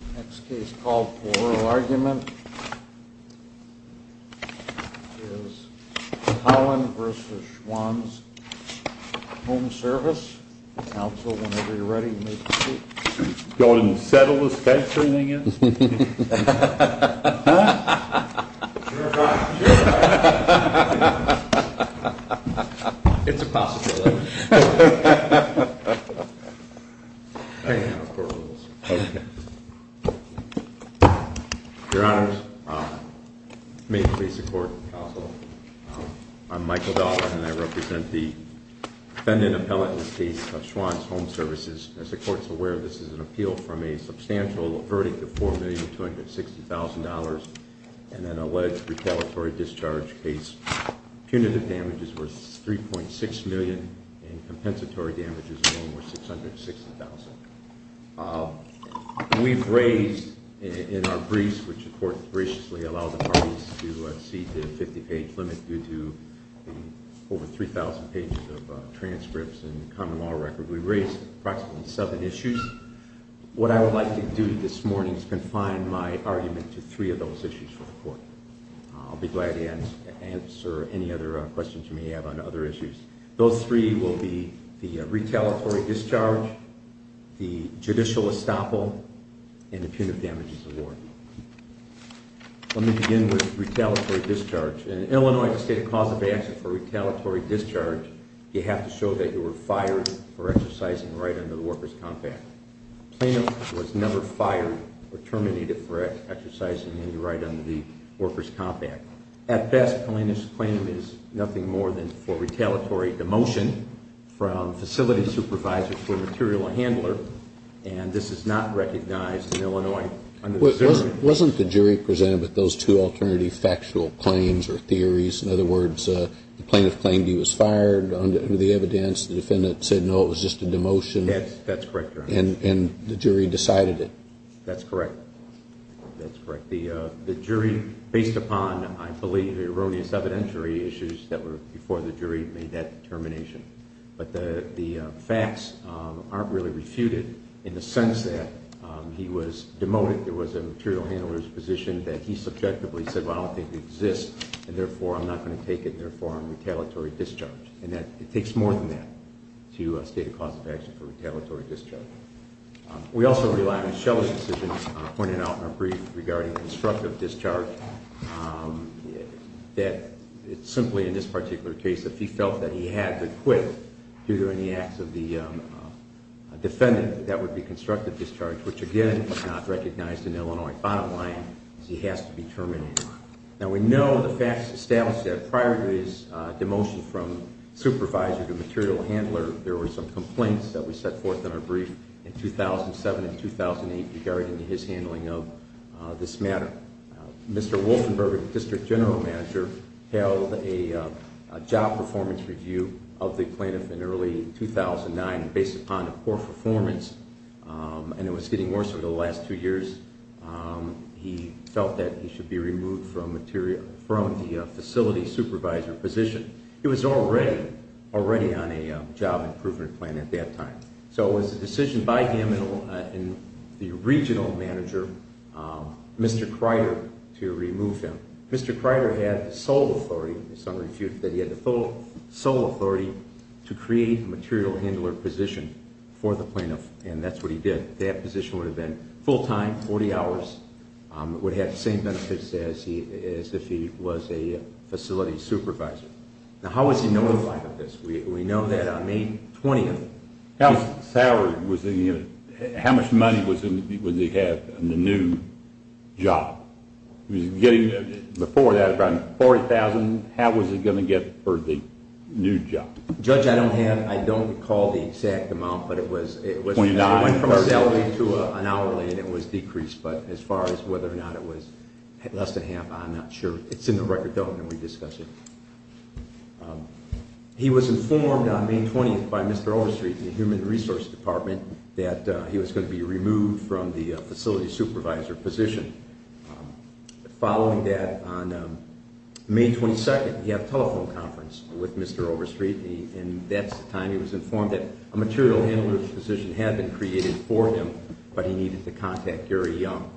The next case called for oral argument is Collin v. Schwan's Home Service. Counsel, whenever you're ready, you may proceed. Go ahead and settle this case. Your Honor, may it please the Court. Counsel, I'm Michael Dahlgren and I represent the defendant appellate in this case, Schwan's Home Services. As the Court's aware, this is an appeal from a substantial verdict of $4,260,000 and an alleged retaliatory discharge case. Punitive damage is worth $3.6 million and compensatory damage is worth $660,000. We've raised in our briefs, which the Court graciously allowed the parties to exceed the 50-page limit due to over 3,000 pages of transcripts and common law record, we've raised approximately seven issues. What I would like to do this morning is confine my argument to three of those issues for the Court. I'll be glad to answer any other questions you may have on other issues. Those three will be the retaliatory discharge, the judicial estoppel, and the punitive damages award. Let me begin with retaliatory discharge. In Illinois, to state a cause of action for retaliatory discharge, you have to show that you were fired for exercising right under the workers' compact. Plaintiff was never fired or terminated for exercising any right under the workers' compact. At best, plaintiff's claim is nothing more than for retaliatory demotion from facility supervisor to a material handler, and this is not recognized in Illinois. Wasn't the jury presented with those two alternative factual claims or theories? In other words, the plaintiff claimed he was fired under the evidence. The defendant said, no, it was just a demotion. That's correct, Your Honor. And the jury decided it. That's correct. That's correct. The jury, based upon, I believe, erroneous evidentiary issues that were before the jury made that determination. But the facts aren't really refuted in the sense that he was demoted. There was a material handler's position that he subjectively said, well, I don't think it exists, and therefore, I'm not going to take it, and therefore, I'm retaliatory discharge. And it takes more than that to state a cause of action for retaliatory discharge. We also rely on Shelley's decision, pointed out in our brief regarding constructive discharge, that simply in this particular case, if he felt that he had to quit due to any acts of the defendant, that that would be constructive discharge, which, again, was not recognized in Illinois. Bottom line is he has to be terminated. Now, we know the facts establish that prior to his demotion from supervisor to material handler, there were some complaints that were set forth in our brief in 2007 and 2008 regarding his handling of this matter. Mr. Wolfenberg, district general manager, held a job performance review of the plaintiff in early 2009. Based upon the poor performance, and it was getting worse over the last two years, he felt that he should be removed from the facility supervisor position. He was already on a job improvement plan at that time. So it was a decision by him and the regional manager, Mr. Kreider, to remove him. Mr. Kreider had the sole authority to create a material handler position for the plaintiff, and that's what he did. That position would have been full-time, 40 hours, would have the same benefits as if he was a facility supervisor. Now, how was he notified of this? We know that on May 20th. How much money would he have in the new job? He was getting, before that, about $40,000. How was he going to get for the new job? Judge, I don't recall the exact amount, but it went from a salary to an hourly, and it was decreased. But as far as whether or not it was less than half, I'm not sure. It's in the record, don't let me discuss it. He was informed on May 20th by Mr. Overstreet in the Human Resources Department that he was going to be removed from the facility supervisor position. Following that, on May 22nd, he had a telephone conference with Mr. Overstreet, and that's the time he was informed that a material handler position had been created for him, but he needed to contact Gary Young.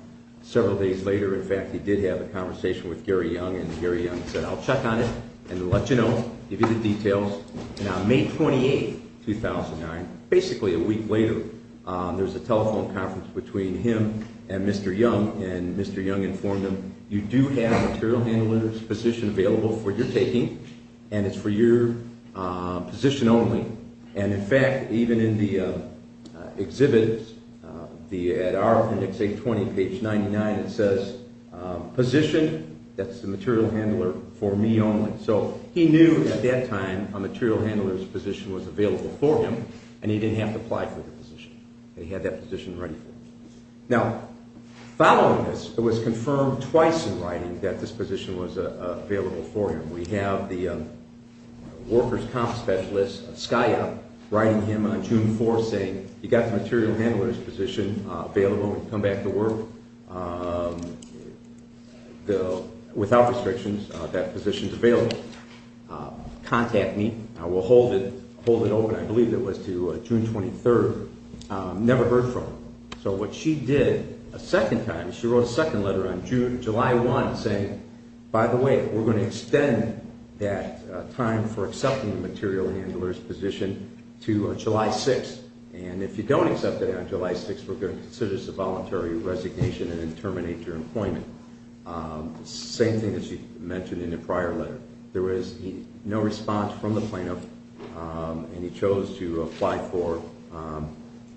Several days later, in fact, he did have a conversation with Gary Young, and Gary Young said, I'll check on it and let you know, give you the details. On May 28th, 2009, basically a week later, there was a telephone conference between him and Mr. Young, and Mr. Young informed him, you do have a material handler position available for your taking, and it's for your position only. In fact, even in the exhibit, at our index 820, page 99, it says, position, that's the material handler, for me only. So he knew at that time a material handler's position was available for him, and he didn't have to apply for the position, and he had that position ready for him. Now, following this, it was confirmed twice in writing that this position was available for him. We have the workers' comp specialist, Skya, writing him on June 4th saying, you've got the material handler's position available when you come back to work. Without restrictions, that position's available. Contact me. I will hold it open, I believe it was to June 23rd. Never heard from him. So what she did a second time, she wrote a second letter on July 1st saying, by the way, we're going to extend that time for accepting the material handler's position to July 6th, and if you don't accept it on July 6th, we're going to consider this a voluntary resignation and then terminate your employment. Same thing that she mentioned in the prior letter. There was no response from the plaintiff, and he chose to apply for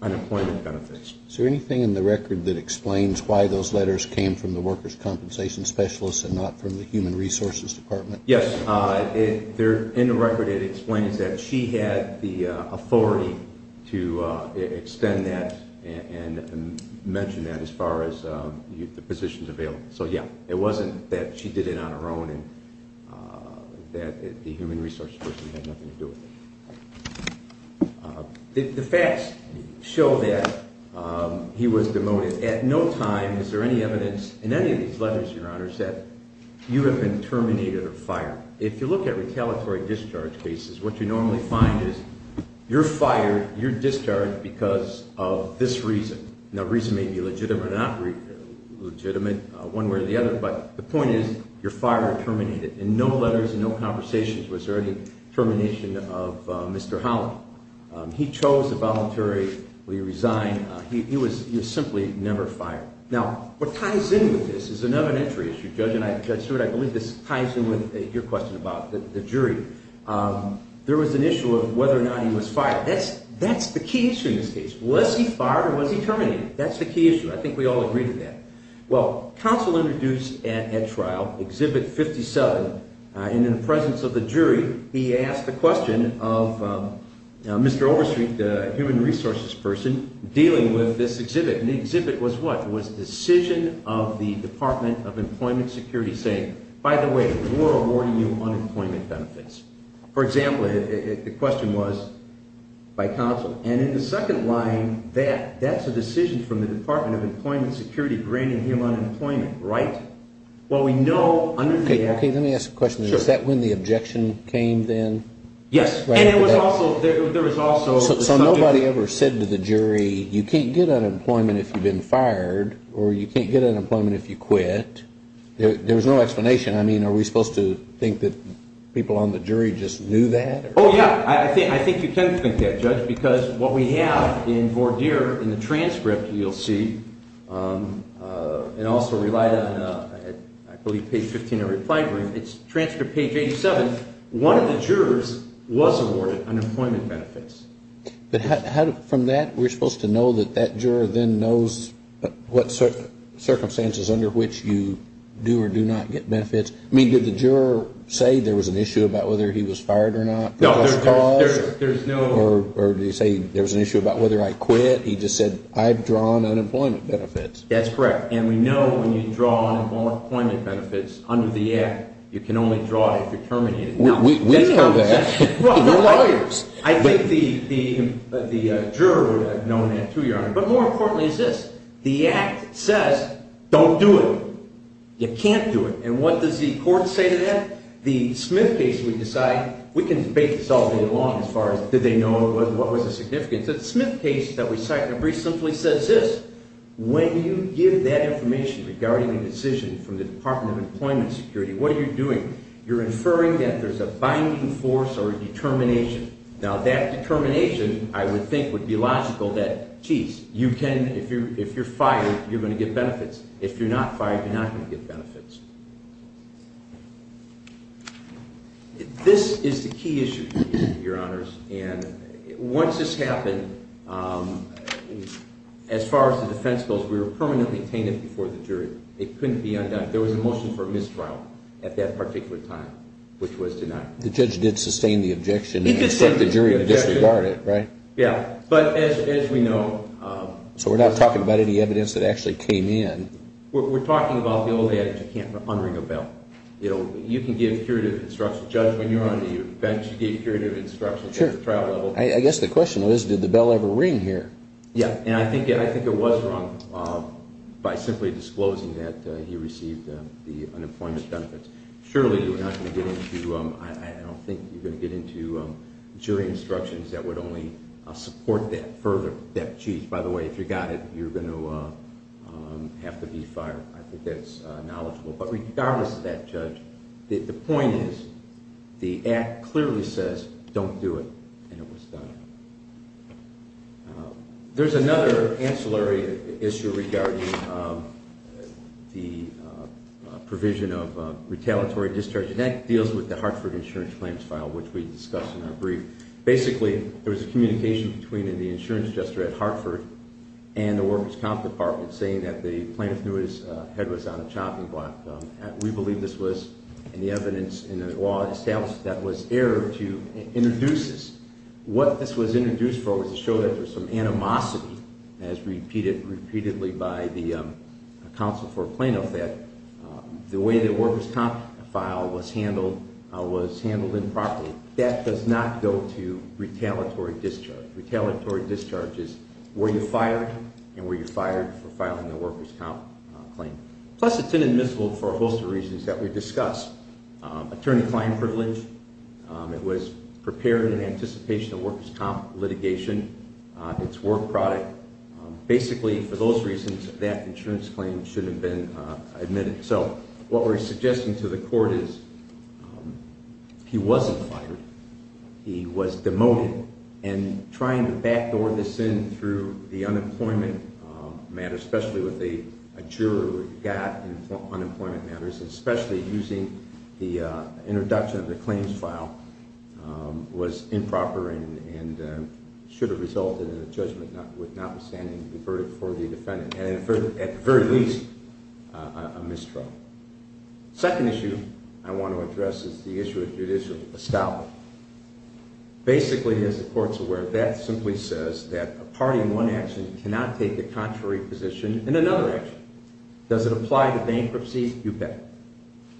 unemployment benefits. Is there anything in the record that explains why those letters came from the workers' compensation specialist and not from the human resources department? Yes, in the record it explains that she had the authority to extend that and mention that as far as the position's available. So, yeah, it wasn't that she did it on her own and that the human resources person had nothing to do with it. The facts show that he was demoted. At no time is there any evidence in any of these letters, Your Honors, that you have been terminated or fired. If you look at retaliatory discharge cases, what you normally find is you're fired, you're discharged because of this reason. Now, the reason may be legitimate or not legitimate, one way or the other, but the point is you're fired or terminated. In no letters, in no conversations was there any termination of Mr. Holland. He chose to voluntarily resign. He was simply never fired. Now, what ties in with this is an evidentiary issue. Judge Stewart, I believe this ties in with your question about the jury. There was an issue of whether or not he was fired. That's the key issue in this case. Was he fired or was he terminated? That's the key issue. I think we all agree to that. He asked the question of Mr. Overstreet, the human resources person, dealing with this exhibit. And the exhibit was what? It was a decision of the Department of Employment Security saying, by the way, we're awarding you unemployment benefits. For example, the question was by counsel. And in the second line, that's a decision from the Department of Employment Security granting him unemployment, right? Let me ask a question. Is that when the objection came then? Yes. So nobody ever said to the jury, you can't get unemployment if you've been fired or you can't get unemployment if you quit? There was no explanation. I mean, are we supposed to think that people on the jury just knew that? Oh, yeah. I think you can think that, Judge. Because what we have in voir dire in the transcript, you'll see, and also relied on, I believe, page 15 of your reply brief, it's transcript page 87. One of the jurors was awarded unemployment benefits. But from that, we're supposed to know that that juror then knows what circumstances under which you do or do not get benefits? I mean, did the juror say there was an issue about whether he was fired or not? Or did he say there was an issue about whether I quit? He just said, I've drawn unemployment benefits. That's correct. And we know when you draw unemployment benefits under the Act, you can only draw it if you're terminated. We know that. We're lawyers. I think the juror would have known that, too, Your Honor. But more importantly is this. The Act says, don't do it. You can't do it. And what does the court say to that? The Smith case, we decide, we can debate this all day long as far as did they know, what was the significance. The Smith case that we cite in the brief simply says this. When you give that information regarding a decision from the Department of Employment Security, what are you doing? You're inferring that there's a binding force or a determination. Now, that determination, I would think, would be logical that, jeez, you can, if you're fired, you're going to get benefits. If you're not fired, you're not going to get benefits. This is the key issue, Your Honors. And once this happened, as far as the defense goes, we were permanently tainted before the jury. It couldn't be undone. There was a motion for mistrial at that particular time, which was denied. The judge did sustain the objection. He did sustain the objection. But the jury disregarded it, right? Yeah. But as we know. So we're not talking about any evidence that actually came in. We're talking about the old adage, you can't unring a bell. You can give curative instructions. Judge, when you were on the bench, you gave curative instructions at the trial level. I guess the question was, did the bell ever ring here? Yeah. And I think it was rung by simply disclosing that he received the unemployment benefits. Surely you're not going to get into, I don't think you're going to get into jury instructions that would only support that further. By the way, if you got it, you're going to have to be fired. I think that's knowledgeable. But regardless of that, Judge, the point is the act clearly says don't do it, and it was done. There's another ancillary issue regarding the provision of retaliatory discharge, and that deals with the Hartford insurance claims file, which we discussed in our brief. Basically, there was a communication between the insurance adjuster at Hartford and the workers' comp department saying that the plaintiff knew his head was on a chopping block. We believe this was, and the evidence in the law establishes that, was error to introduce this. What this was introduced for was to show that there's some animosity, as repeated repeatedly by the counsel for a plaintiff, that the way the workers' comp file was handled was handled improperly. That does not go to retaliatory discharge. Retaliatory discharge is were you fired, and were you fired for filing the workers' comp claim. Plus, it's inadmissible for a host of reasons that we discussed. Attorney fine privilege, it was prepared in anticipation of workers' comp litigation, it's war product. Basically, for those reasons, that insurance claim should have been admitted. So, what we're suggesting to the court is he wasn't fired, he was demoted, and trying to backdoor this in through the unemployment matter, especially with a juror who got unemployment matters, especially using the introduction of the claims file, was improper, and should have resulted in a judgment notwithstanding the verdict for the defendant. And at the very least, a mistrial. Second issue I want to address is the issue of judicial establishment. Basically, as the court's aware, that simply says that a party in one action cannot take the contrary position in another action. Does it apply to bankruptcy? You bet.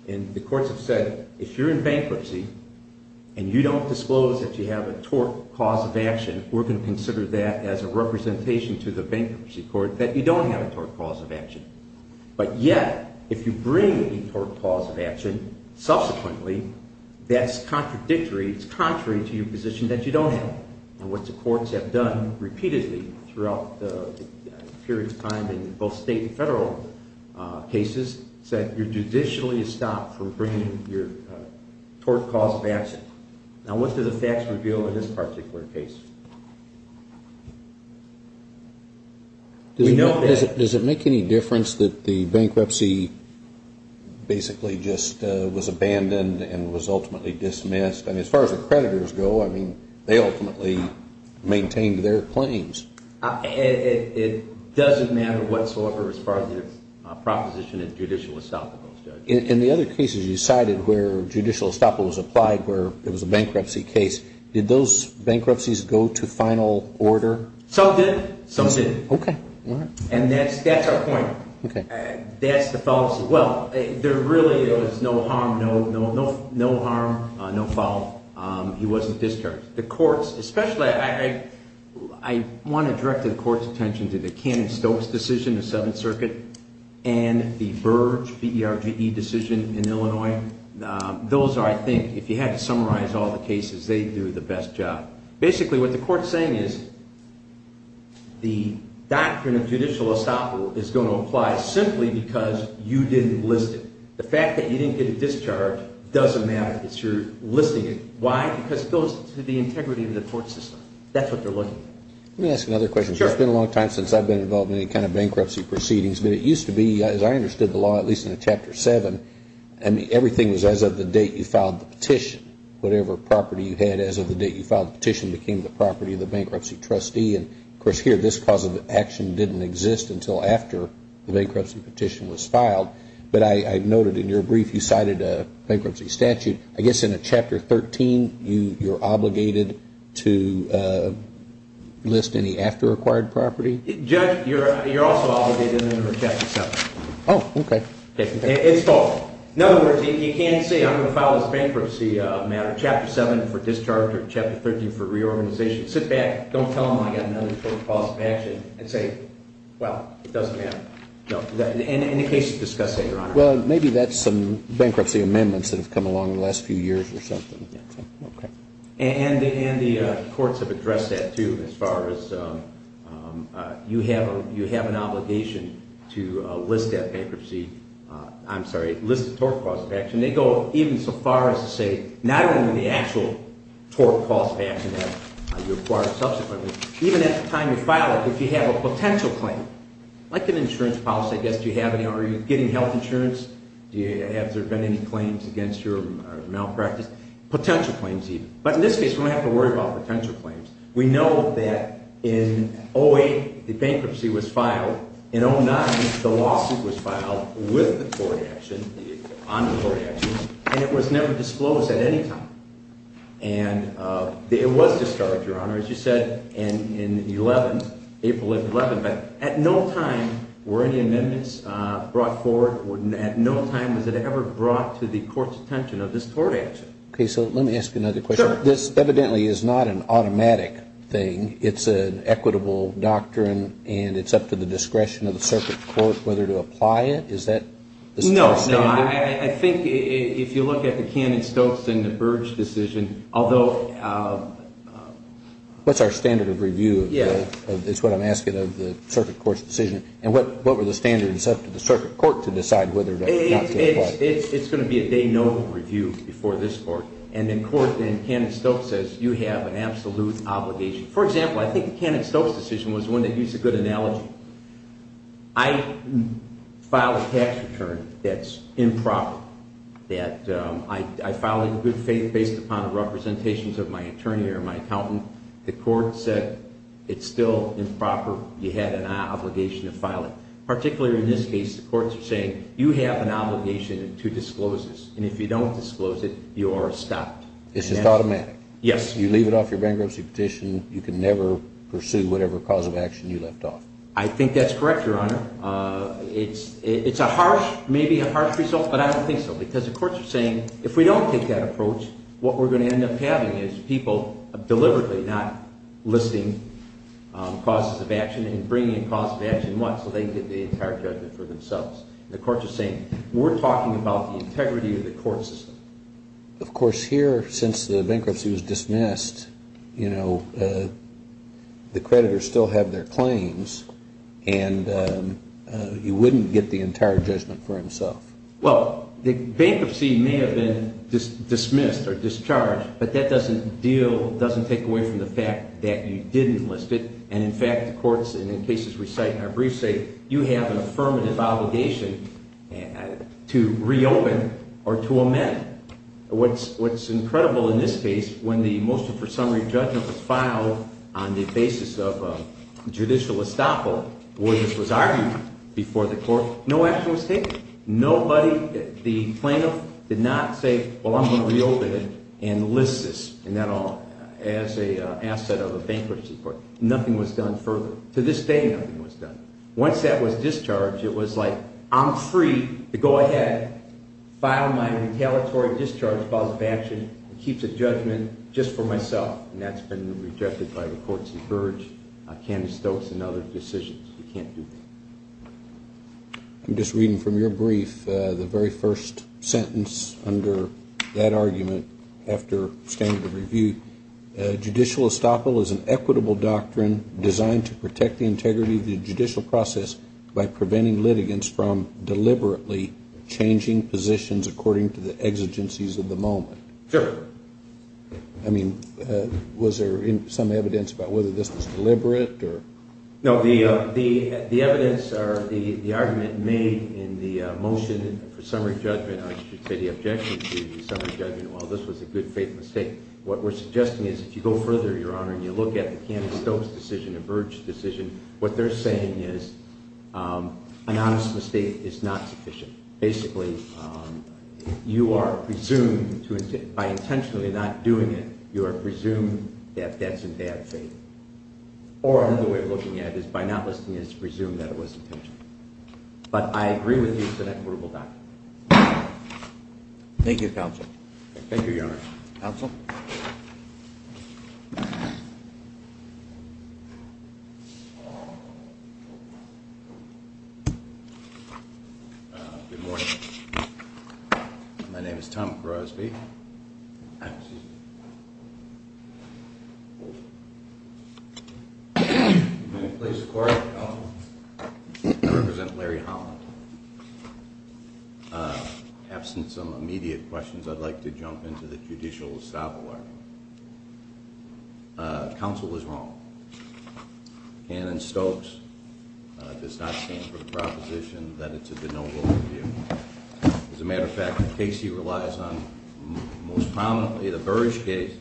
And the courts have said, if you're in bankruptcy, and you don't disclose that you have a tort cause of action, we're going to consider that as a representation to the bankruptcy court that you don't have a tort cause of action. But yet, if you bring a tort cause of action, subsequently, that's contradictory, it's contrary to your position that you don't have. And what the courts have done repeatedly throughout the period of time in both state and federal cases, is that you're judicially stopped from bringing your tort cause of action. Now, what does the facts reveal in this particular case? Does it make any difference that the bankruptcy basically just was abandoned and was ultimately dismissed? I mean, as far as the creditors go, I mean, they ultimately maintained their claims. It doesn't matter whatsoever as far as the proposition of judicial establishment. In the other cases you cited where judicial establishment was applied, where it was a bankruptcy case, did those bankruptcies go to final order? Some did. Some didn't. Okay. All right. And that's our point. Okay. That's the fallacy. Well, there really was no harm, no foul. He wasn't discharged. The courts, especially, I want to direct the court's attention to the Cannon-Stokes decision, the Seventh Circuit, and the Burge, B-E-R-G-E, decision in Illinois. Those are, I think, if you had to summarize all the cases, they do the best job. Basically, what the court's saying is the doctrine of judicial establishment is going to apply simply because you didn't list it. The fact that you didn't get a discharge doesn't matter because you're listing it. Why? Because it goes to the integrity of the court system. That's what they're looking for. Let me ask another question. Sure. It's been a long time since I've been involved in any kind of bankruptcy proceedings. But it used to be, as I understood the law, at least in Chapter 7, everything was as of the date you filed the petition. Whatever property you had as of the date you filed the petition became the property of the bankruptcy trustee. And, of course, here this cause of action didn't exist until after the bankruptcy petition was filed. But I noted in your brief you cited a bankruptcy statute. I guess in a Chapter 13 you're obligated to list any after-acquired property? Judge, you're also obligated under Chapter 7. Oh, okay. It's false. In other words, you can't say I'm going to file this bankruptcy matter, Chapter 7 for discharge or Chapter 13 for reorganization. Sit back, don't tell them I've got another cause of action, and say, well, it doesn't matter. No. In the case you're discussing, Your Honor. Well, maybe that's some bankruptcy amendments that have come along in the last few years or something. Okay. And the courts have addressed that, too, as far as you have an obligation to list that bankruptcy ‑‑ I'm sorry, list the tort cause of action. They go even so far as to say not only the actual tort cause of action that you acquired subsequently, even at the time you file it, if you have a potential claim, like an insurance policy, I guess, are you getting health insurance? Has there been any claims against your malpractice? Potential claims, even. But in this case, we don't have to worry about potential claims. We know that in 08, the bankruptcy was filed. In 09, the lawsuit was filed with the tort action, on the tort action, and it was never disclosed at any time. And it was discharged, Your Honor, as you said, in 11, April 11. But at no time were any amendments brought forward. At no time was it ever brought to the court's attention of this tort action. Okay. So let me ask you another question. Sure. This evidently is not an automatic thing. It's an equitable doctrine, and it's up to the discretion of the circuit court whether to apply it. Is that the standard? No, no. I think if you look at the Cannon‑Stokes and the Burge decision, although ‑‑ That's our standard of review. Yeah. It's what I'm asking of the circuit court's decision. And what were the standards up to the circuit court to decide whether or not to apply it? It's going to be a day no review before this court. And in court, then, Cannon‑Stokes says you have an absolute obligation. For example, I think the Cannon‑Stokes decision was one that used a good analogy. I filed a tax return that's improper, that I filed in good faith based upon the representations of my attorney or my accountant. The court said it's still improper. You had an obligation to file it. Particularly in this case, the courts are saying you have an obligation to disclose this. And if you don't disclose it, you are stopped. It's just automatic. Yes. You leave it off your bankruptcy petition. You can never pursue whatever cause of action you left off. I think that's correct, Your Honor. It's a harsh, maybe a harsh result, but I don't think so because the courts are saying if we don't take that approach, what we're going to end up having is people deliberately not listing causes of action and bringing in causes of action once so they can get the entire judgment for themselves. The courts are saying we're talking about the integrity of the court system. Of course, here, since the bankruptcy was dismissed, you know, the creditors still have their claims, and you wouldn't get the entire judgment for himself. Well, the bankruptcy may have been dismissed or discharged, but that doesn't deal, doesn't take away from the fact that you didn't list it. And, in fact, the courts, and in cases we cite in our briefs, say you have an affirmative obligation to reopen or to amend. What's incredible in this case, when the motion for summary judgment was filed on the basis of judicial estoppel, where this was argued before the court, no action was taken. Nobody, the plaintiff did not say, well, I'm going to reopen it and list this and that all as an asset of a bankruptcy court. Nothing was done further. To this day, nothing was done. Once that was discharged, it was like I'm free to go ahead, file my retaliatory discharge cause of action, and keep the judgment just for myself. And that's been rejected by the courts in Burge, Candace Stokes, and other decisions. You can't do that. I'm just reading from your brief the very first sentence under that argument after standard review. Judicial estoppel is an equitable doctrine designed to protect the integrity of the judicial process by preventing litigants from deliberately changing positions according to the exigencies of the moment. Sure. I mean, was there some evidence about whether this was deliberate or? No, the evidence or the argument made in the motion for summary judgment, I should say the objection to the summary judgment, while this was a good faith mistake, what we're suggesting is if you go further, Your Honor, and you look at the Candace Stokes decision and Burge decision, what they're saying is an honest mistake is not sufficient. Basically, you are presumed to, by intentionally not doing it, you are presumed to have debts and bad faith. Or another way of looking at it is by not listening, it's presumed that it was intentional. But I agree with you, it's an equitable doctrine. Thank you, counsel. Thank you, Your Honor. Counsel? Good morning. My name is Tom Crosby. Excuse me. I'm going to place the court at the count of one. I represent Larry Holland. Absent some immediate questions, I'd like to jump into the judicial establishment. Counsel is wrong. Candace Stokes does not stand for the proposition that it's a de novo review. As a matter of fact, Casey relies on most prominently the Burge case,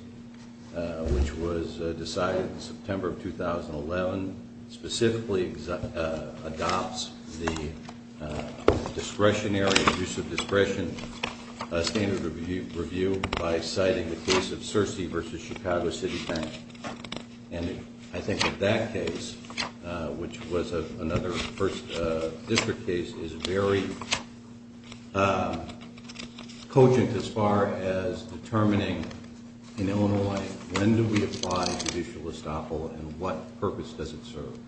which was decided in September of 2011. Specifically adopts the discretionary use of discretion standard review by citing the case of Searcy v. Chicago City County. And I think that that case, which was another first district case, is very cogent as far as determining, in Illinois, when do we apply judicial estoppel and what purpose does it serve?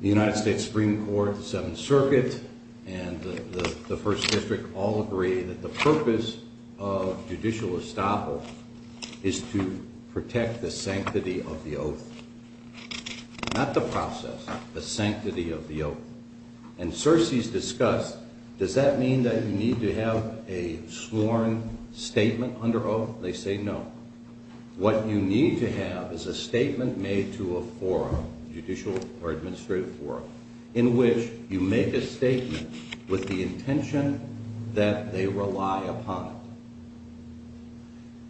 The United States Supreme Court, the Seventh Circuit, and the First District all agree that the purpose of judicial estoppel is to protect the sanctity of the oath. Not the process, the sanctity of the oath. And Searcy's discussed, does that mean that you need to have a sworn statement under oath? They say no. What you need to have is a statement made to a forum, judicial or administrative forum, in which you make a statement with the intention that they rely upon it.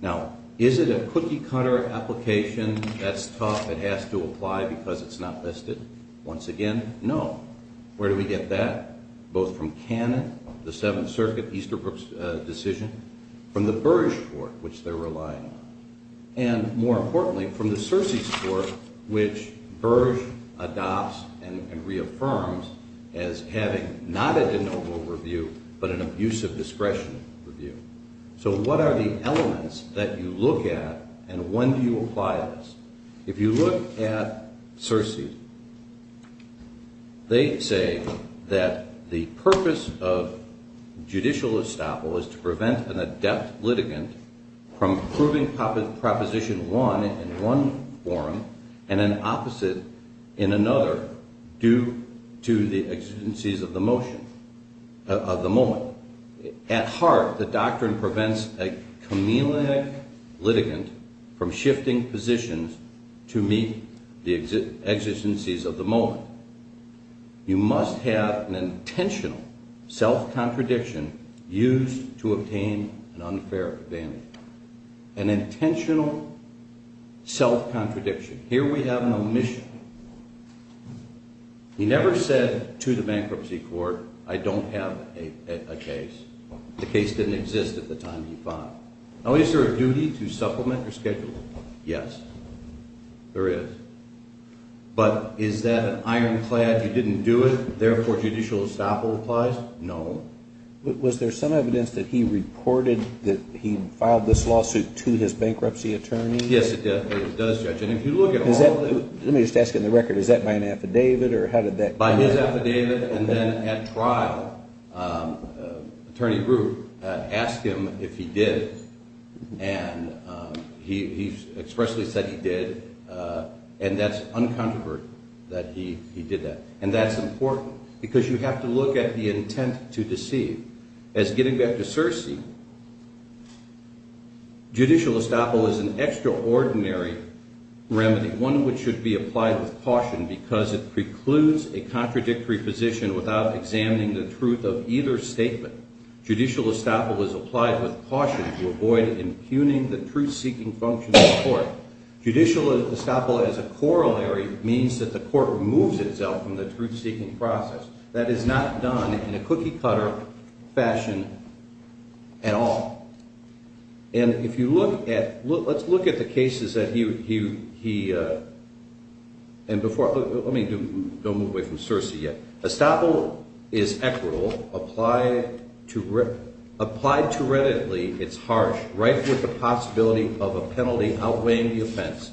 Now, is it a cookie-cutter application that's tough and has to apply because it's not listed? Once again, no. Where do we get that? Both from Cannon, the Seventh Circuit, Easterbrook's decision. From the Burge court, which they're relying on. And more importantly, from the Searcy's court, which Burge adopts and reaffirms as having not a de novo review, but an abusive discretion review. So what are the elements that you look at and when do you apply this? If you look at Searcy, they say that the purpose of judicial estoppel is to prevent an adept litigant from proving Proposition 1 in one forum and an opposite in another due to the exigencies of the moment. At heart, the doctrine prevents a chameleonic litigant from shifting positions to meet the exigencies of the moment. You must have an intentional self-contradiction used to obtain an unfair advantage. An intentional self-contradiction. Here we have an omission. He never said to the bankruptcy court, I don't have a case. The case didn't exist at the time he filed. Now, is there a duty to supplement your schedule? Yes, there is. But is that an ironclad, you didn't do it, therefore judicial estoppel applies? No. Was there some evidence that he reported that he filed this lawsuit to his bankruptcy attorney? Yes, it does, Judge. Let me just ask you on the record, is that by an affidavit or how did that come about? By his affidavit and then at trial, Attorney Brewer asked him if he did and he expressly said he did and that's uncontroverted that he did that. And that's important because you have to look at the intent to deceive. As getting back to Searcy, judicial estoppel is an extraordinary remedy, one which should be applied with caution because it precludes a contradictory position without examining the truth of either statement. Judicial estoppel is applied with caution to avoid impugning the truth-seeking function of the court. Judicial estoppel as a corollary means that the court removes itself from the truth-seeking process. That is not done in a cookie-cutter fashion at all. And if you look at, let's look at the cases that he, and before, let me do, don't move away from Searcy yet. Estoppel is equitable. Applied to readily, it's harsh, rife with the possibility of a penalty outweighing the offense.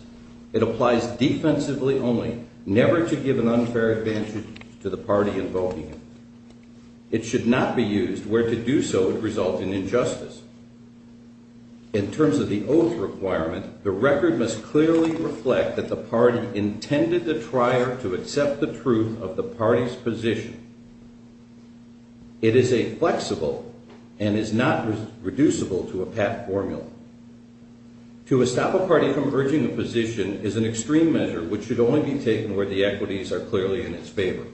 It applies defensively only, never to give an unfair advantage to the party invoking it. It should not be used where to do so would result in injustice. In terms of the oath requirement, the record must clearly reflect that the party intended the trier to accept the truth of the party's position. It is a flexible and is not reducible to a pat formula. To estoppel a party from urging a position is an extreme measure which should only be taken where the equities are clearly in its favor.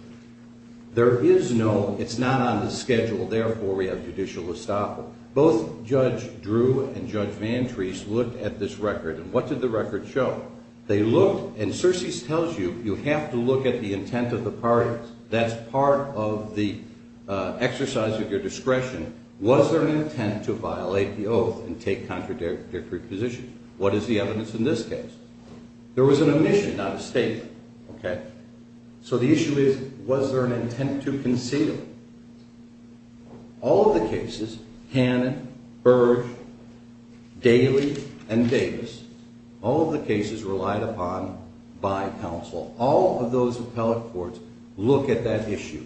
There is no, it's not on the schedule, therefore we have judicial estoppel. Both Judge Drew and Judge Van Treese looked at this record, and what did the record show? They looked, and Searcy tells you, you have to look at the intent of the parties. That's part of the exercise of your discretion. Was there an intent to violate the oath and take contradictory positions? What is the evidence in this case? There was an omission, not a statement, okay? So the issue is, was there an intent to conceal? All of the cases, Cannon, Burge, Daly, and Davis, all of the cases relied upon by counsel. All of those appellate courts look at that issue.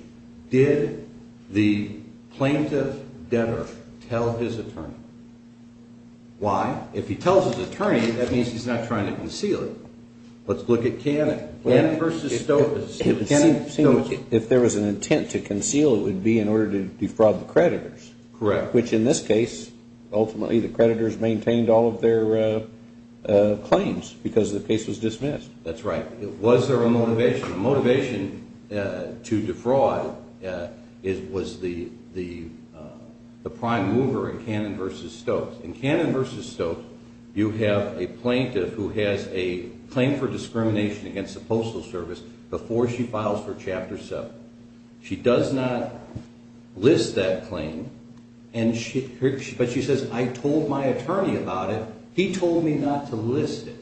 Did the plaintiff ever tell his attorney? Why? If he tells his attorney, that means he's not trying to conceal it. Let's look at Cannon. Cannon v. Stokes. If there was an intent to conceal, it would be in order to defraud the creditors. Correct. Which in this case, ultimately the creditors maintained all of their claims because the case was dismissed. That's right. Was there a motivation? The motivation to defraud was the prime mover in Cannon v. Stokes. In Cannon v. Stokes, you have a plaintiff who has a claim for discrimination against the Postal Service before she files for Chapter 7. She does not list that claim, but she says, I told my attorney about it. He told me not to list it.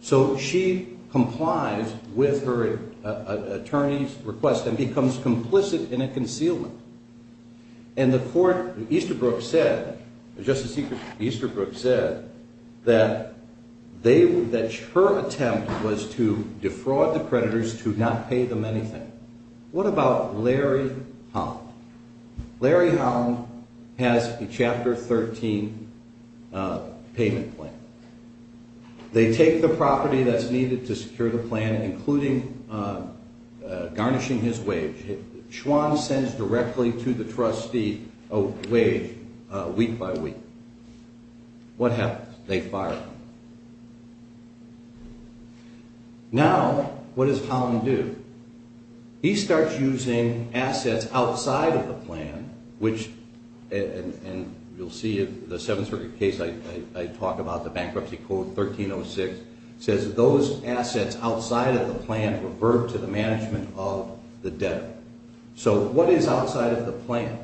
So she complies with her attorney's request and becomes complicit in a concealment. Justice Easterbrook said that her attempt was to defraud the creditors to not pay them anything. What about Larry Holland? Larry Holland has a Chapter 13 payment plan. They take the property that's needed to secure the plan, including garnishing his wage. Schwann sends directly to the trustee a wage week by week. What happens? They fire him. Now, what does Holland do? He starts using assets outside of the plan, which you'll see in the 7th Circuit case I talked about, the Bankruptcy Code 1306, says that those assets outside of the plan revert to the management of the debtor. So what is outside of the plan?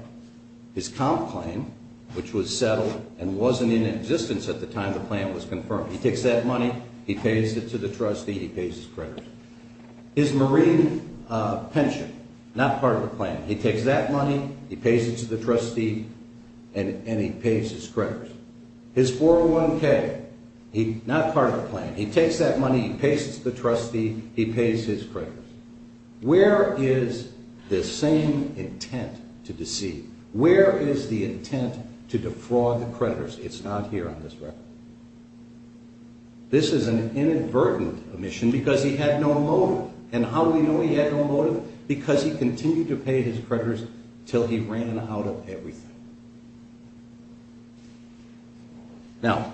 His comp claim, which was settled and wasn't in existence at the time the plan was confirmed. He takes that money, he pays it to the trustee, he pays his creditors. His marine pension, not part of the plan. He takes that money, he pays it to the trustee, and he pays his creditors. His 401k, not part of the plan. He takes that money, he pays it to the trustee, he pays his creditors. Where is the same intent to deceive? Where is the intent to defraud the creditors? It's not here on this record. This is an inadvertent omission because he had no motive. And how do we know he had no motive? Because he continued to pay his creditors until he ran out of everything. Now,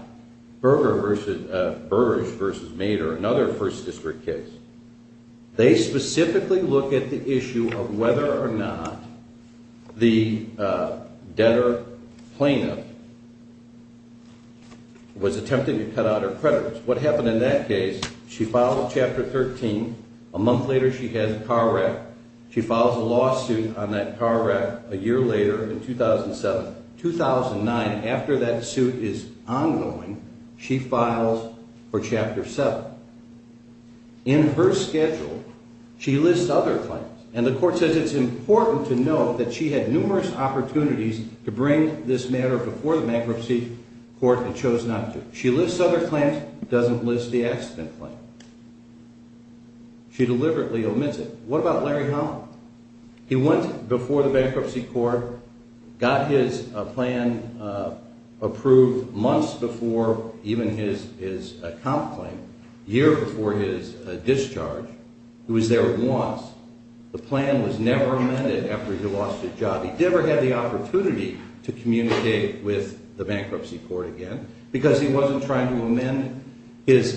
Burgess v. Mader, another 1st District case. They specifically look at the issue of whether or not the debtor plaintiff was attempting to cut out her creditors. What happened in that case, she filed a Chapter 13. A month later, she has a car wreck. She files a lawsuit on that car wreck a year later in 2007. 2009, after that suit is ongoing, she files for Chapter 7. In her schedule, she lists other claims. And the court says it's important to note that she had numerous opportunities to bring this matter before the bankruptcy court and chose not to. She lists other claims, doesn't list the accident claim. She deliberately omits it. What about Larry Holland? He went before the bankruptcy court, got his plan approved months before even his account claim, a year before his discharge. He was there once. The plan was never amended after he lost his job. He never had the opportunity to communicate with the bankruptcy court again because he wasn't trying to amend his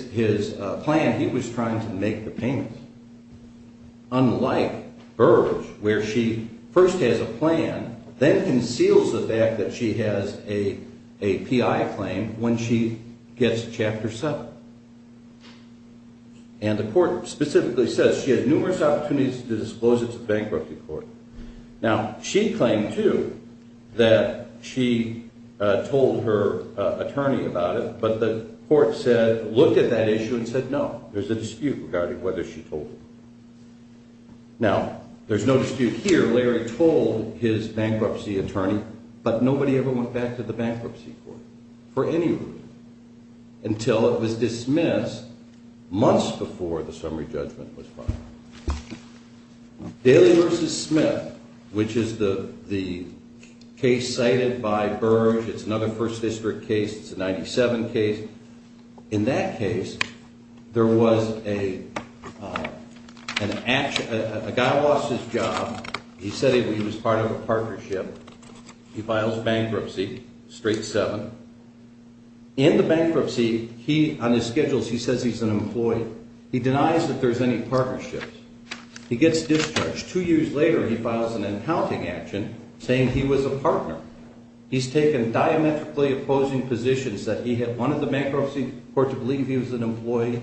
plan. He was trying to make the payment. Unlike Burgess, where she first has a plan, then conceals the fact that she has a PI claim when she gets Chapter 7. And the court specifically says she had numerous opportunities to disclose it to the bankruptcy court. Now, she claimed, too, that she told her attorney about it, but the court said, looked at that issue and said, no, there's a dispute regarding whether she told him. Now, there's no dispute here. Larry told his bankruptcy attorney, but nobody ever went back to the bankruptcy court for any reason until it was dismissed months before the summary judgment was filed. Daly v. Smith, which is the case cited by Burge. It's another First District case. It's a 97 case. In that case, there was a guy who lost his job. He said he was part of a partnership. He files bankruptcy, straight 7. In the bankruptcy, on his schedule, he says he's an employee. He denies that there's any partnerships. He gets discharged. Two years later, he files an accounting action saying he was a partner. He's taken diametrically opposing positions that he had wanted the bankruptcy court to believe he was an employee.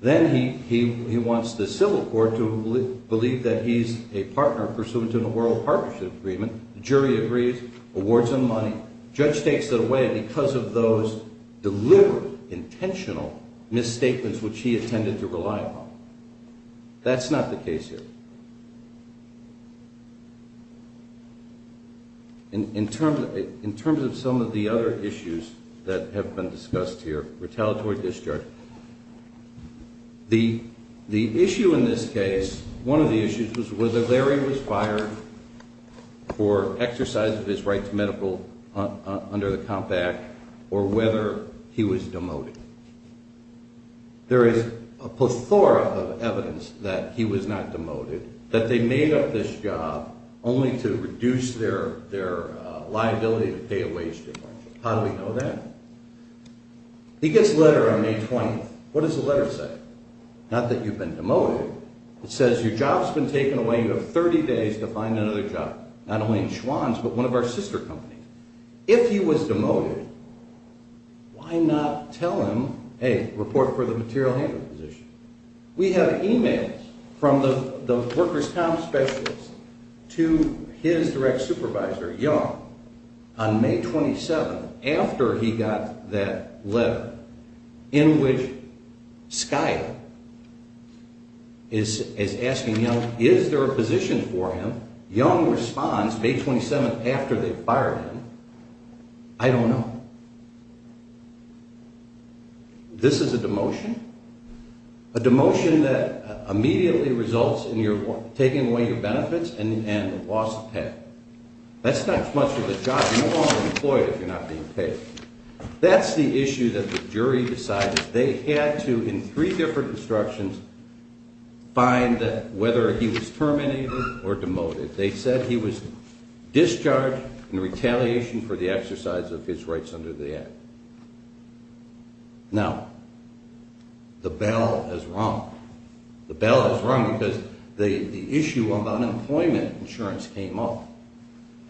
Then he wants the civil court to believe that he's a partner pursuant to an oral partnership agreement. The jury agrees, awards him money. Judge takes it away because of those deliberate, intentional misstatements which he intended to rely upon. That's not the case here. In terms of some of the other issues that have been discussed here, retaliatory discharge, the issue in this case, one of the issues, was whether Larry was fired for exercising his right to medical under the Comp Act or whether he was demoted. There is a plethora of evidence that he was not demoted, that they made up this job only to reduce their liability to pay a wage difference. How do we know that? He gets a letter on May 20th. What does the letter say? Not that you've been demoted. It says your job's been taken away. You have 30 days to find another job, not only in Schwan's but one of our sister companies. If he was demoted, why not tell him, hey, report for the material handling position? We have e-mails from the workers' comp specialist to his direct supervisor, Young, on May 27th, after he got that letter, in which Skyler is asking Young, is there a position for him? Young responds, May 27th, after they fired him, I don't know. This is a demotion? A demotion that immediately results in your taking away your benefits and loss of pay. That's not as much of a job you want employed if you're not being paid. That's the issue that the jury decided. They had to, in three different instructions, find whether he was terminated or demoted. They said he was discharged in retaliation for the exercise of his rights under the Act. Now, the bell has rung. The bell has rung because the issue of unemployment insurance came up.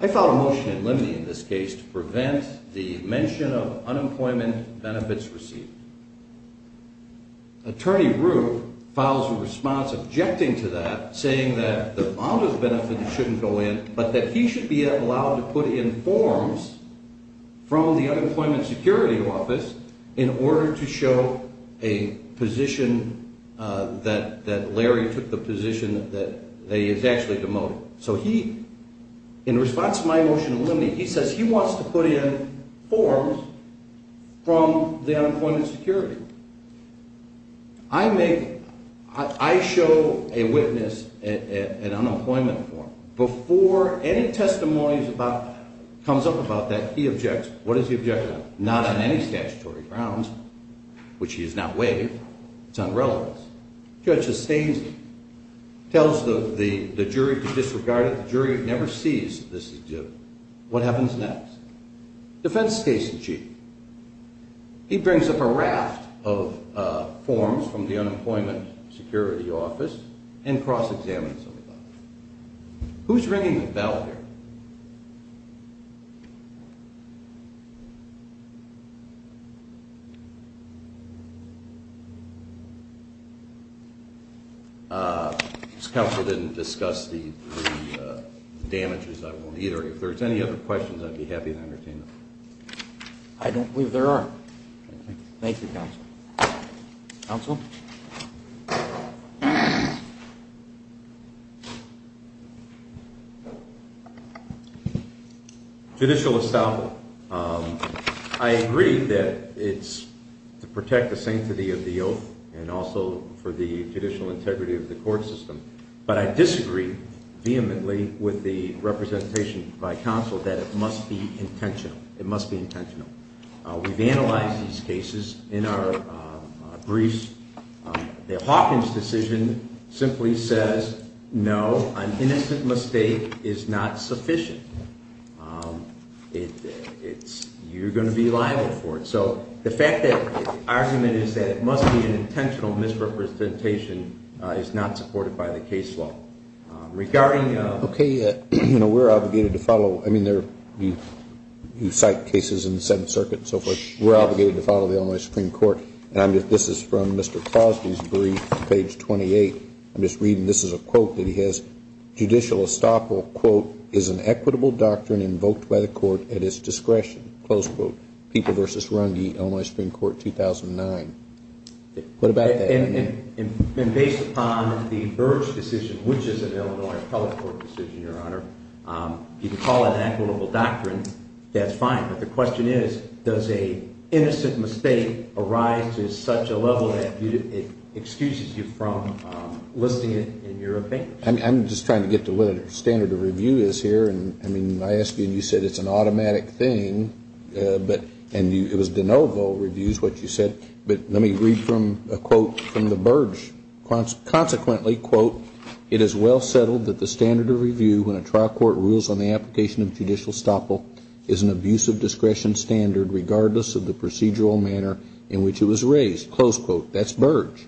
I filed a motion in limine in this case to prevent the mention of unemployment benefits received. Attorney Rue files a response objecting to that, saying that the amount of benefits shouldn't go in, but that he should be allowed to put in forms from the Unemployment Security Office in order to show a position that Larry took, the position that he is actually demoted. So he, in response to my motion in limine, he says he wants to put in forms from the Unemployment Security. I show a witness an unemployment form. Before any testimony comes up about that, he objects. What does he object to? Not on any statutory grounds, which he has not waived. It's unrelevance. The judge sustains it, tells the jury to disregard it. The jury never sees this is due. What happens next? Defense case in chief. He brings up a raft of forms from the Unemployment Security Office and cross-examines them. Who's ringing the bell here? If this counsel didn't discuss the damages, I won't either. If there's any other questions, I'd be happy to entertain them. I don't believe there are. Thank you, counsel. Counsel? Judicial establishment. I agree that it's to protect the sanctity of the oath and also for the judicial integrity of the court system. But I disagree vehemently with the representation by counsel that it must be intentional. It must be intentional. We've analyzed these cases in our briefs. The Hawkins decision simply says, no, an innocent mistake is not sufficient. You're going to be liable for it. So the fact that the argument is that it must be an intentional misrepresentation is not supported by the case law. Okay, we're obligated to follow. I mean, you cite cases in the Seventh Circuit and so forth. We're obligated to follow the Illinois Supreme Court. And this is from Mr. Crosby's brief, page 28. I'm just reading. This is a quote that he has. Judicial estoppel, quote, is an equitable doctrine invoked by the court at its discretion, close quote. People v. Runge, Illinois Supreme Court, 2009. What about that? Based upon the Birch decision, which is an Illinois appellate court decision, Your Honor, you can call it an equitable doctrine. That's fine. But the question is, does an innocent mistake arise to such a level that it excuses you from listing it in your opinion? I'm just trying to get to what a standard of review is here. And, I mean, I asked you and you said it's an automatic thing. And it was de novo reviews, what you said. But let me read from a quote from the Birch. Consequently, quote, it is well settled that the standard of review when a trial court rules on the application of judicial estoppel is an abuse of discretion standard regardless of the procedural manner in which it was raised. Close quote. That's Birch.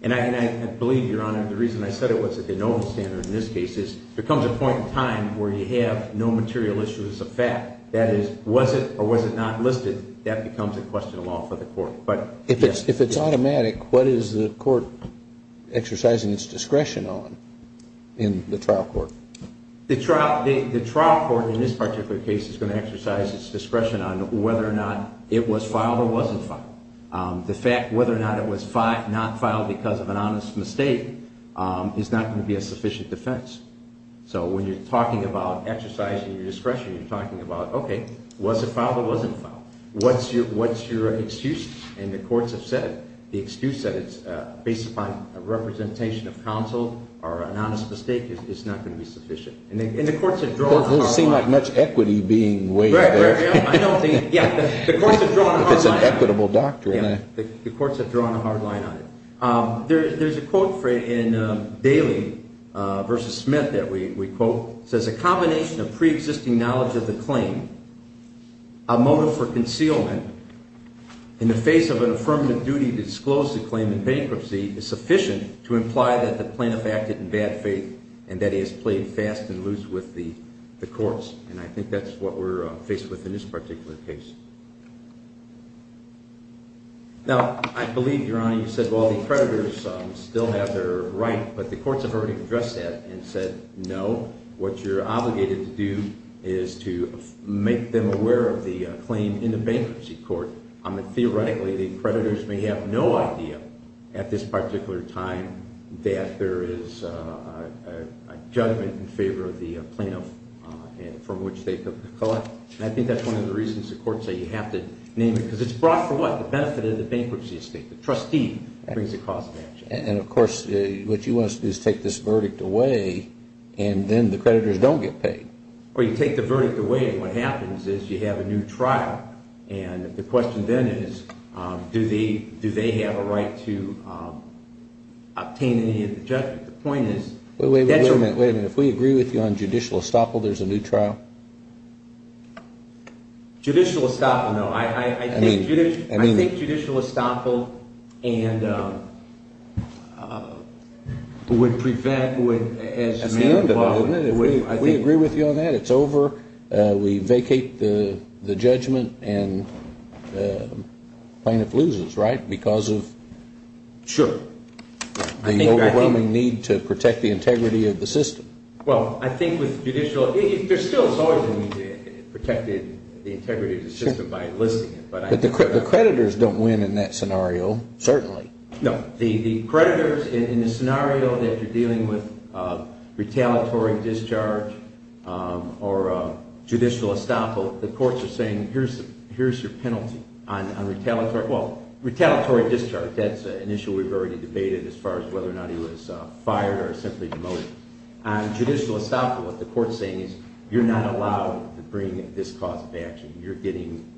And I believe, Your Honor, the reason I said it was a de novo standard in this case is there comes a point in time where you have no material issues of fact. That is, was it or was it not listed, that becomes a question of law for the court. If it's automatic, what is the court exercising its discretion on in the trial court? The trial court in this particular case is going to exercise its discretion on whether or not it was filed or wasn't filed. The fact whether or not it was not filed because of an honest mistake is not going to be a sufficient defense. So when you're talking about exercising your discretion, you're talking about, okay, was it filed or wasn't filed? What's your excuse? And the courts have said the excuse that it's based upon a representation of counsel or an honest mistake is not going to be sufficient. And the courts have drawn a hard line. It doesn't seem like much equity being weighed there. I don't think, yeah, the courts have drawn a hard line. If it's an equitable doctrine. The courts have drawn a hard line on it. There's a quote in Daly v. Smith that we quote. It says, a combination of preexisting knowledge of the claim, a motive for concealment, in the face of an affirmative duty to disclose the claim in bankruptcy, is sufficient to imply that the plaintiff acted in bad faith and that he has played fast and loose with the courts. And I think that's what we're faced with in this particular case. Now, I believe, Your Honor, you said, well, the creditors still have their right. But the courts have already addressed that and said, no, what you're obligated to do is to make them aware of the claim in the bankruptcy court. Theoretically, the creditors may have no idea at this particular time that there is a judgment in favor of the plaintiff from which they could collect. And I think that's one of the reasons the courts say you have to name it. Because it's brought for what? The benefit of the bankruptcy estate. The trustee brings the cost of action. And, of course, what you want us to do is take this verdict away, and then the creditors don't get paid. Well, you take the verdict away, and what happens is you have a new trial. And the question then is, do they have a right to obtain any of the judgment? Wait a minute, wait a minute. If we agree with you on judicial estoppel, there's a new trial? Judicial estoppel, no. I think judicial estoppel would prevent, as Mayor DeVos would, I think. We agree with you on that. It's over. We vacate the judgment, and the plaintiff loses, right? Because of? Sure. The overwhelming need to protect the integrity of the system. Well, I think with judicial, there still is always a need to protect the integrity of the system by enlisting it. But the creditors don't win in that scenario, certainly. No. The creditors, in the scenario that you're dealing with retaliatory discharge or judicial estoppel, the courts are saying, here's your penalty on retaliatory, well, retaliatory discharge. That's an issue we've already debated as far as whether or not he was fired or simply demoted. On judicial estoppel, what the court's saying is, you're not allowed to bring this cause of action. You're getting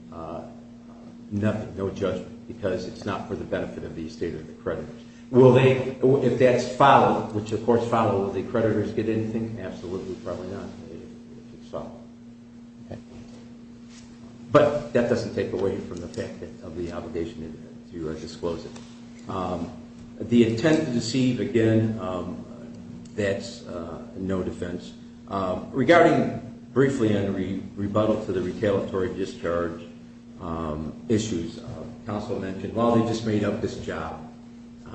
nothing, no judgment, because it's not for the benefit of the estate or the creditors. Will they, if that's followed, which the courts follow, will the creditors get anything? Absolutely, probably not, if it's followed. Okay. But that doesn't take away from the fact of the obligation to disclose it. The intent to deceive, again, that's no defense. Regarding briefly and rebuttal to the retaliatory discharge issues, counsel mentioned, well, they just made up this job,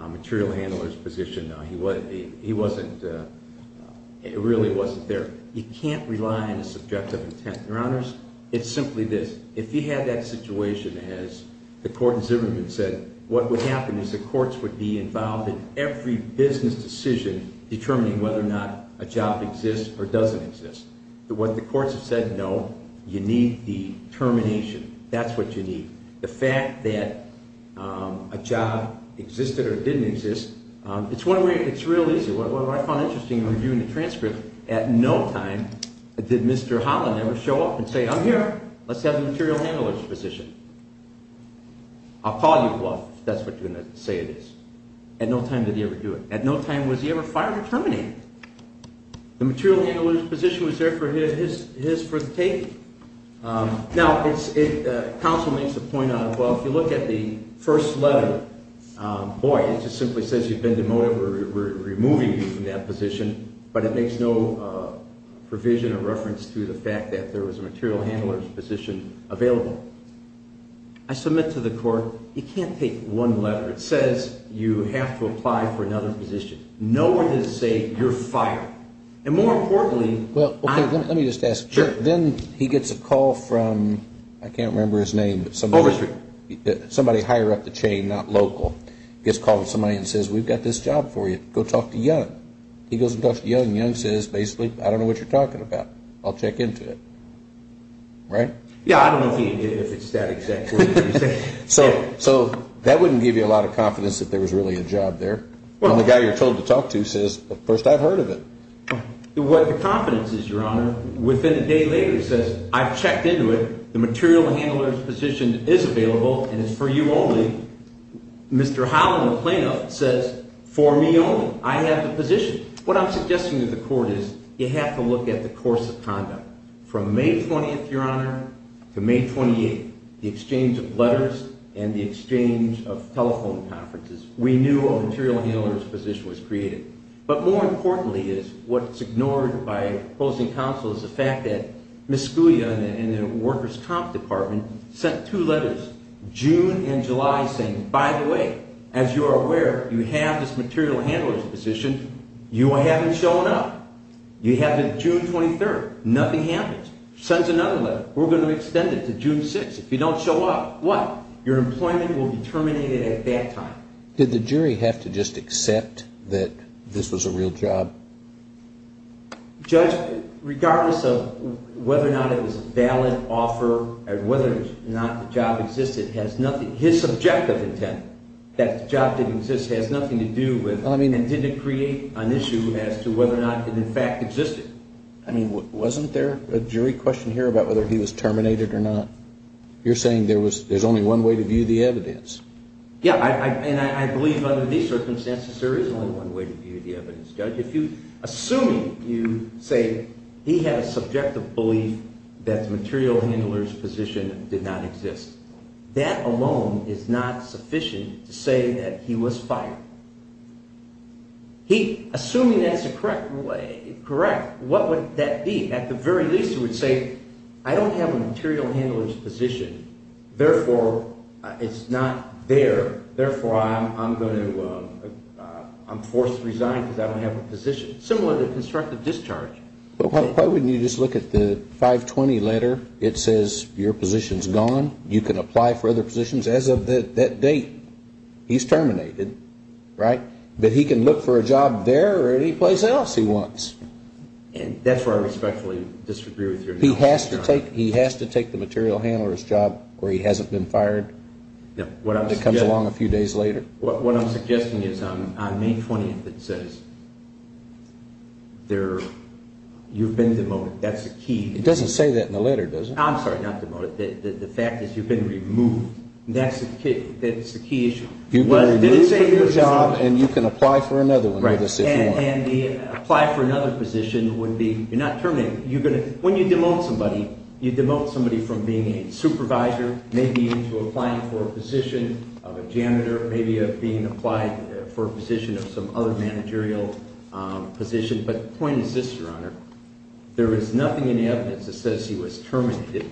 material handler's position. He wasn't, it really wasn't there. You can't rely on a subjective intent. Your Honors, it's simply this. If you had that situation as the court in Zimmerman said, what would happen is the courts would be involved in every business decision determining whether or not a job exists or doesn't exist. What the courts have said, no, you need the termination. That's what you need. The fact that a job existed or didn't exist, it's one way, it's real easy. What I found interesting in reviewing the transcript, at no time did Mr. Holland ever show up and say, I'm here. Let's have the material handler's position. I'll call you, if that's what you're going to say it is. At no time did he ever do it. At no time was he ever fired or terminated. The material handler's position was there for his, his, for the taking. Now, counsel makes a point on, well, if you look at the first letter, boy, it just simply says you've been demoted, we're removing you from that position, but it makes no provision or reference to the fact that there was a material handler's position available. I submit to the court, you can't take one letter. It says you have to apply for another position. Nowhere does it say you're fired. And more importantly, I'm- Well, okay, let me just ask. Sure. Then he gets a call from, I can't remember his name, but somebody- Overshoot. He gets a call from somebody and says, we've got this job for you. Go talk to Young. He goes and talks to Young. Young says, basically, I don't know what you're talking about. I'll check into it. Right? Yeah, I don't know if he knew if it's that exact word that you said. So, so that wouldn't give you a lot of confidence that there was really a job there. Well- And the guy you're told to talk to says, well, first I've heard of it. What the confidence is, Your Honor, within a day later says, I've checked into it, the material handler's position is available, and it's for you only. Mr. Holland, the plaintiff, says, for me only. I have the position. What I'm suggesting to the court is you have to look at the course of conduct. From May 20th, Your Honor, to May 28th, the exchange of letters and the exchange of telephone conferences. We knew a material handler's position was created. But more importantly is what's ignored by opposing counsel is the fact that Ms. Scalia in the workers' comp department sent two letters, June and July, saying, by the way, as you are aware, you have this material handler's position. You haven't shown up. You have it June 23rd. Nothing happens. Sends another letter. We're going to extend it to June 6th. If you don't show up, what? Your employment will be terminated at that time. Did the jury have to just accept that this was a real job? Judge, regardless of whether or not it was a valid offer or whether or not the job existed, his subjective intent that the job didn't exist has nothing to do with and didn't create an issue as to whether or not it in fact existed. I mean, wasn't there a jury question here about whether he was terminated or not? You're saying there's only one way to view the evidence. Yeah, and I believe under these circumstances there is only one way to view the evidence, Judge. Assuming you say he had a subjective belief that the material handler's position did not exist, that alone is not sufficient to say that he was fired. Assuming that's correct, what would that be? I don't have a material handler's position. Therefore, it's not there. Therefore, I'm forced to resign because I don't have a position. Similar to constructive discharge. Why wouldn't you just look at the 520 letter? It says your position's gone. You can apply for other positions. As of that date, he's terminated, right? But he can look for a job there or anyplace else he wants. And that's where I respectfully disagree with you. He has to take the material handler's job where he hasn't been fired? No. It comes along a few days later? What I'm suggesting is on May 20th it says you've been demoted. That's the key. It doesn't say that in the letter, does it? I'm sorry, not demoted. The fact is you've been removed. That's the key issue. You've been removed from your job and you can apply for another one. And apply for another position would be you're not terminated. When you demote somebody, you demote somebody from being a supervisor, maybe into applying for a position of a janitor, maybe being applied for a position of some other managerial position. But the point is this, Your Honor. There is nothing in the evidence that says he was terminated.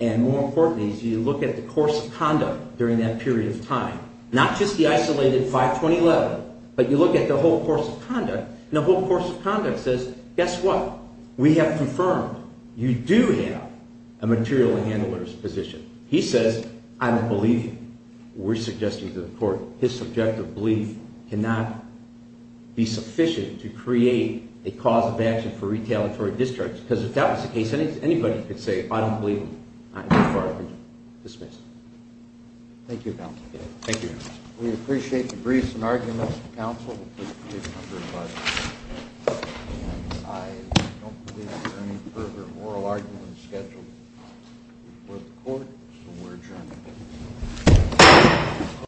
And more importantly, as you look at the course of conduct during that period of time, not just the isolated 52011, but you look at the whole course of conduct, and the whole course of conduct says, guess what? We have confirmed you do have a material handler's position. He says, I don't believe you. We're suggesting to the court his subjective belief cannot be sufficient to create a cause of action for retaliatory discharge. Because if that was the case, anybody could say, I don't believe you. I'm not firing you. Dismissed. Thank you, counsel. Thank you, Your Honor. We appreciate the briefs and arguments of counsel. We appreciate the number of arguments. And I don't believe there are any further oral arguments scheduled before the court, so we're adjourned.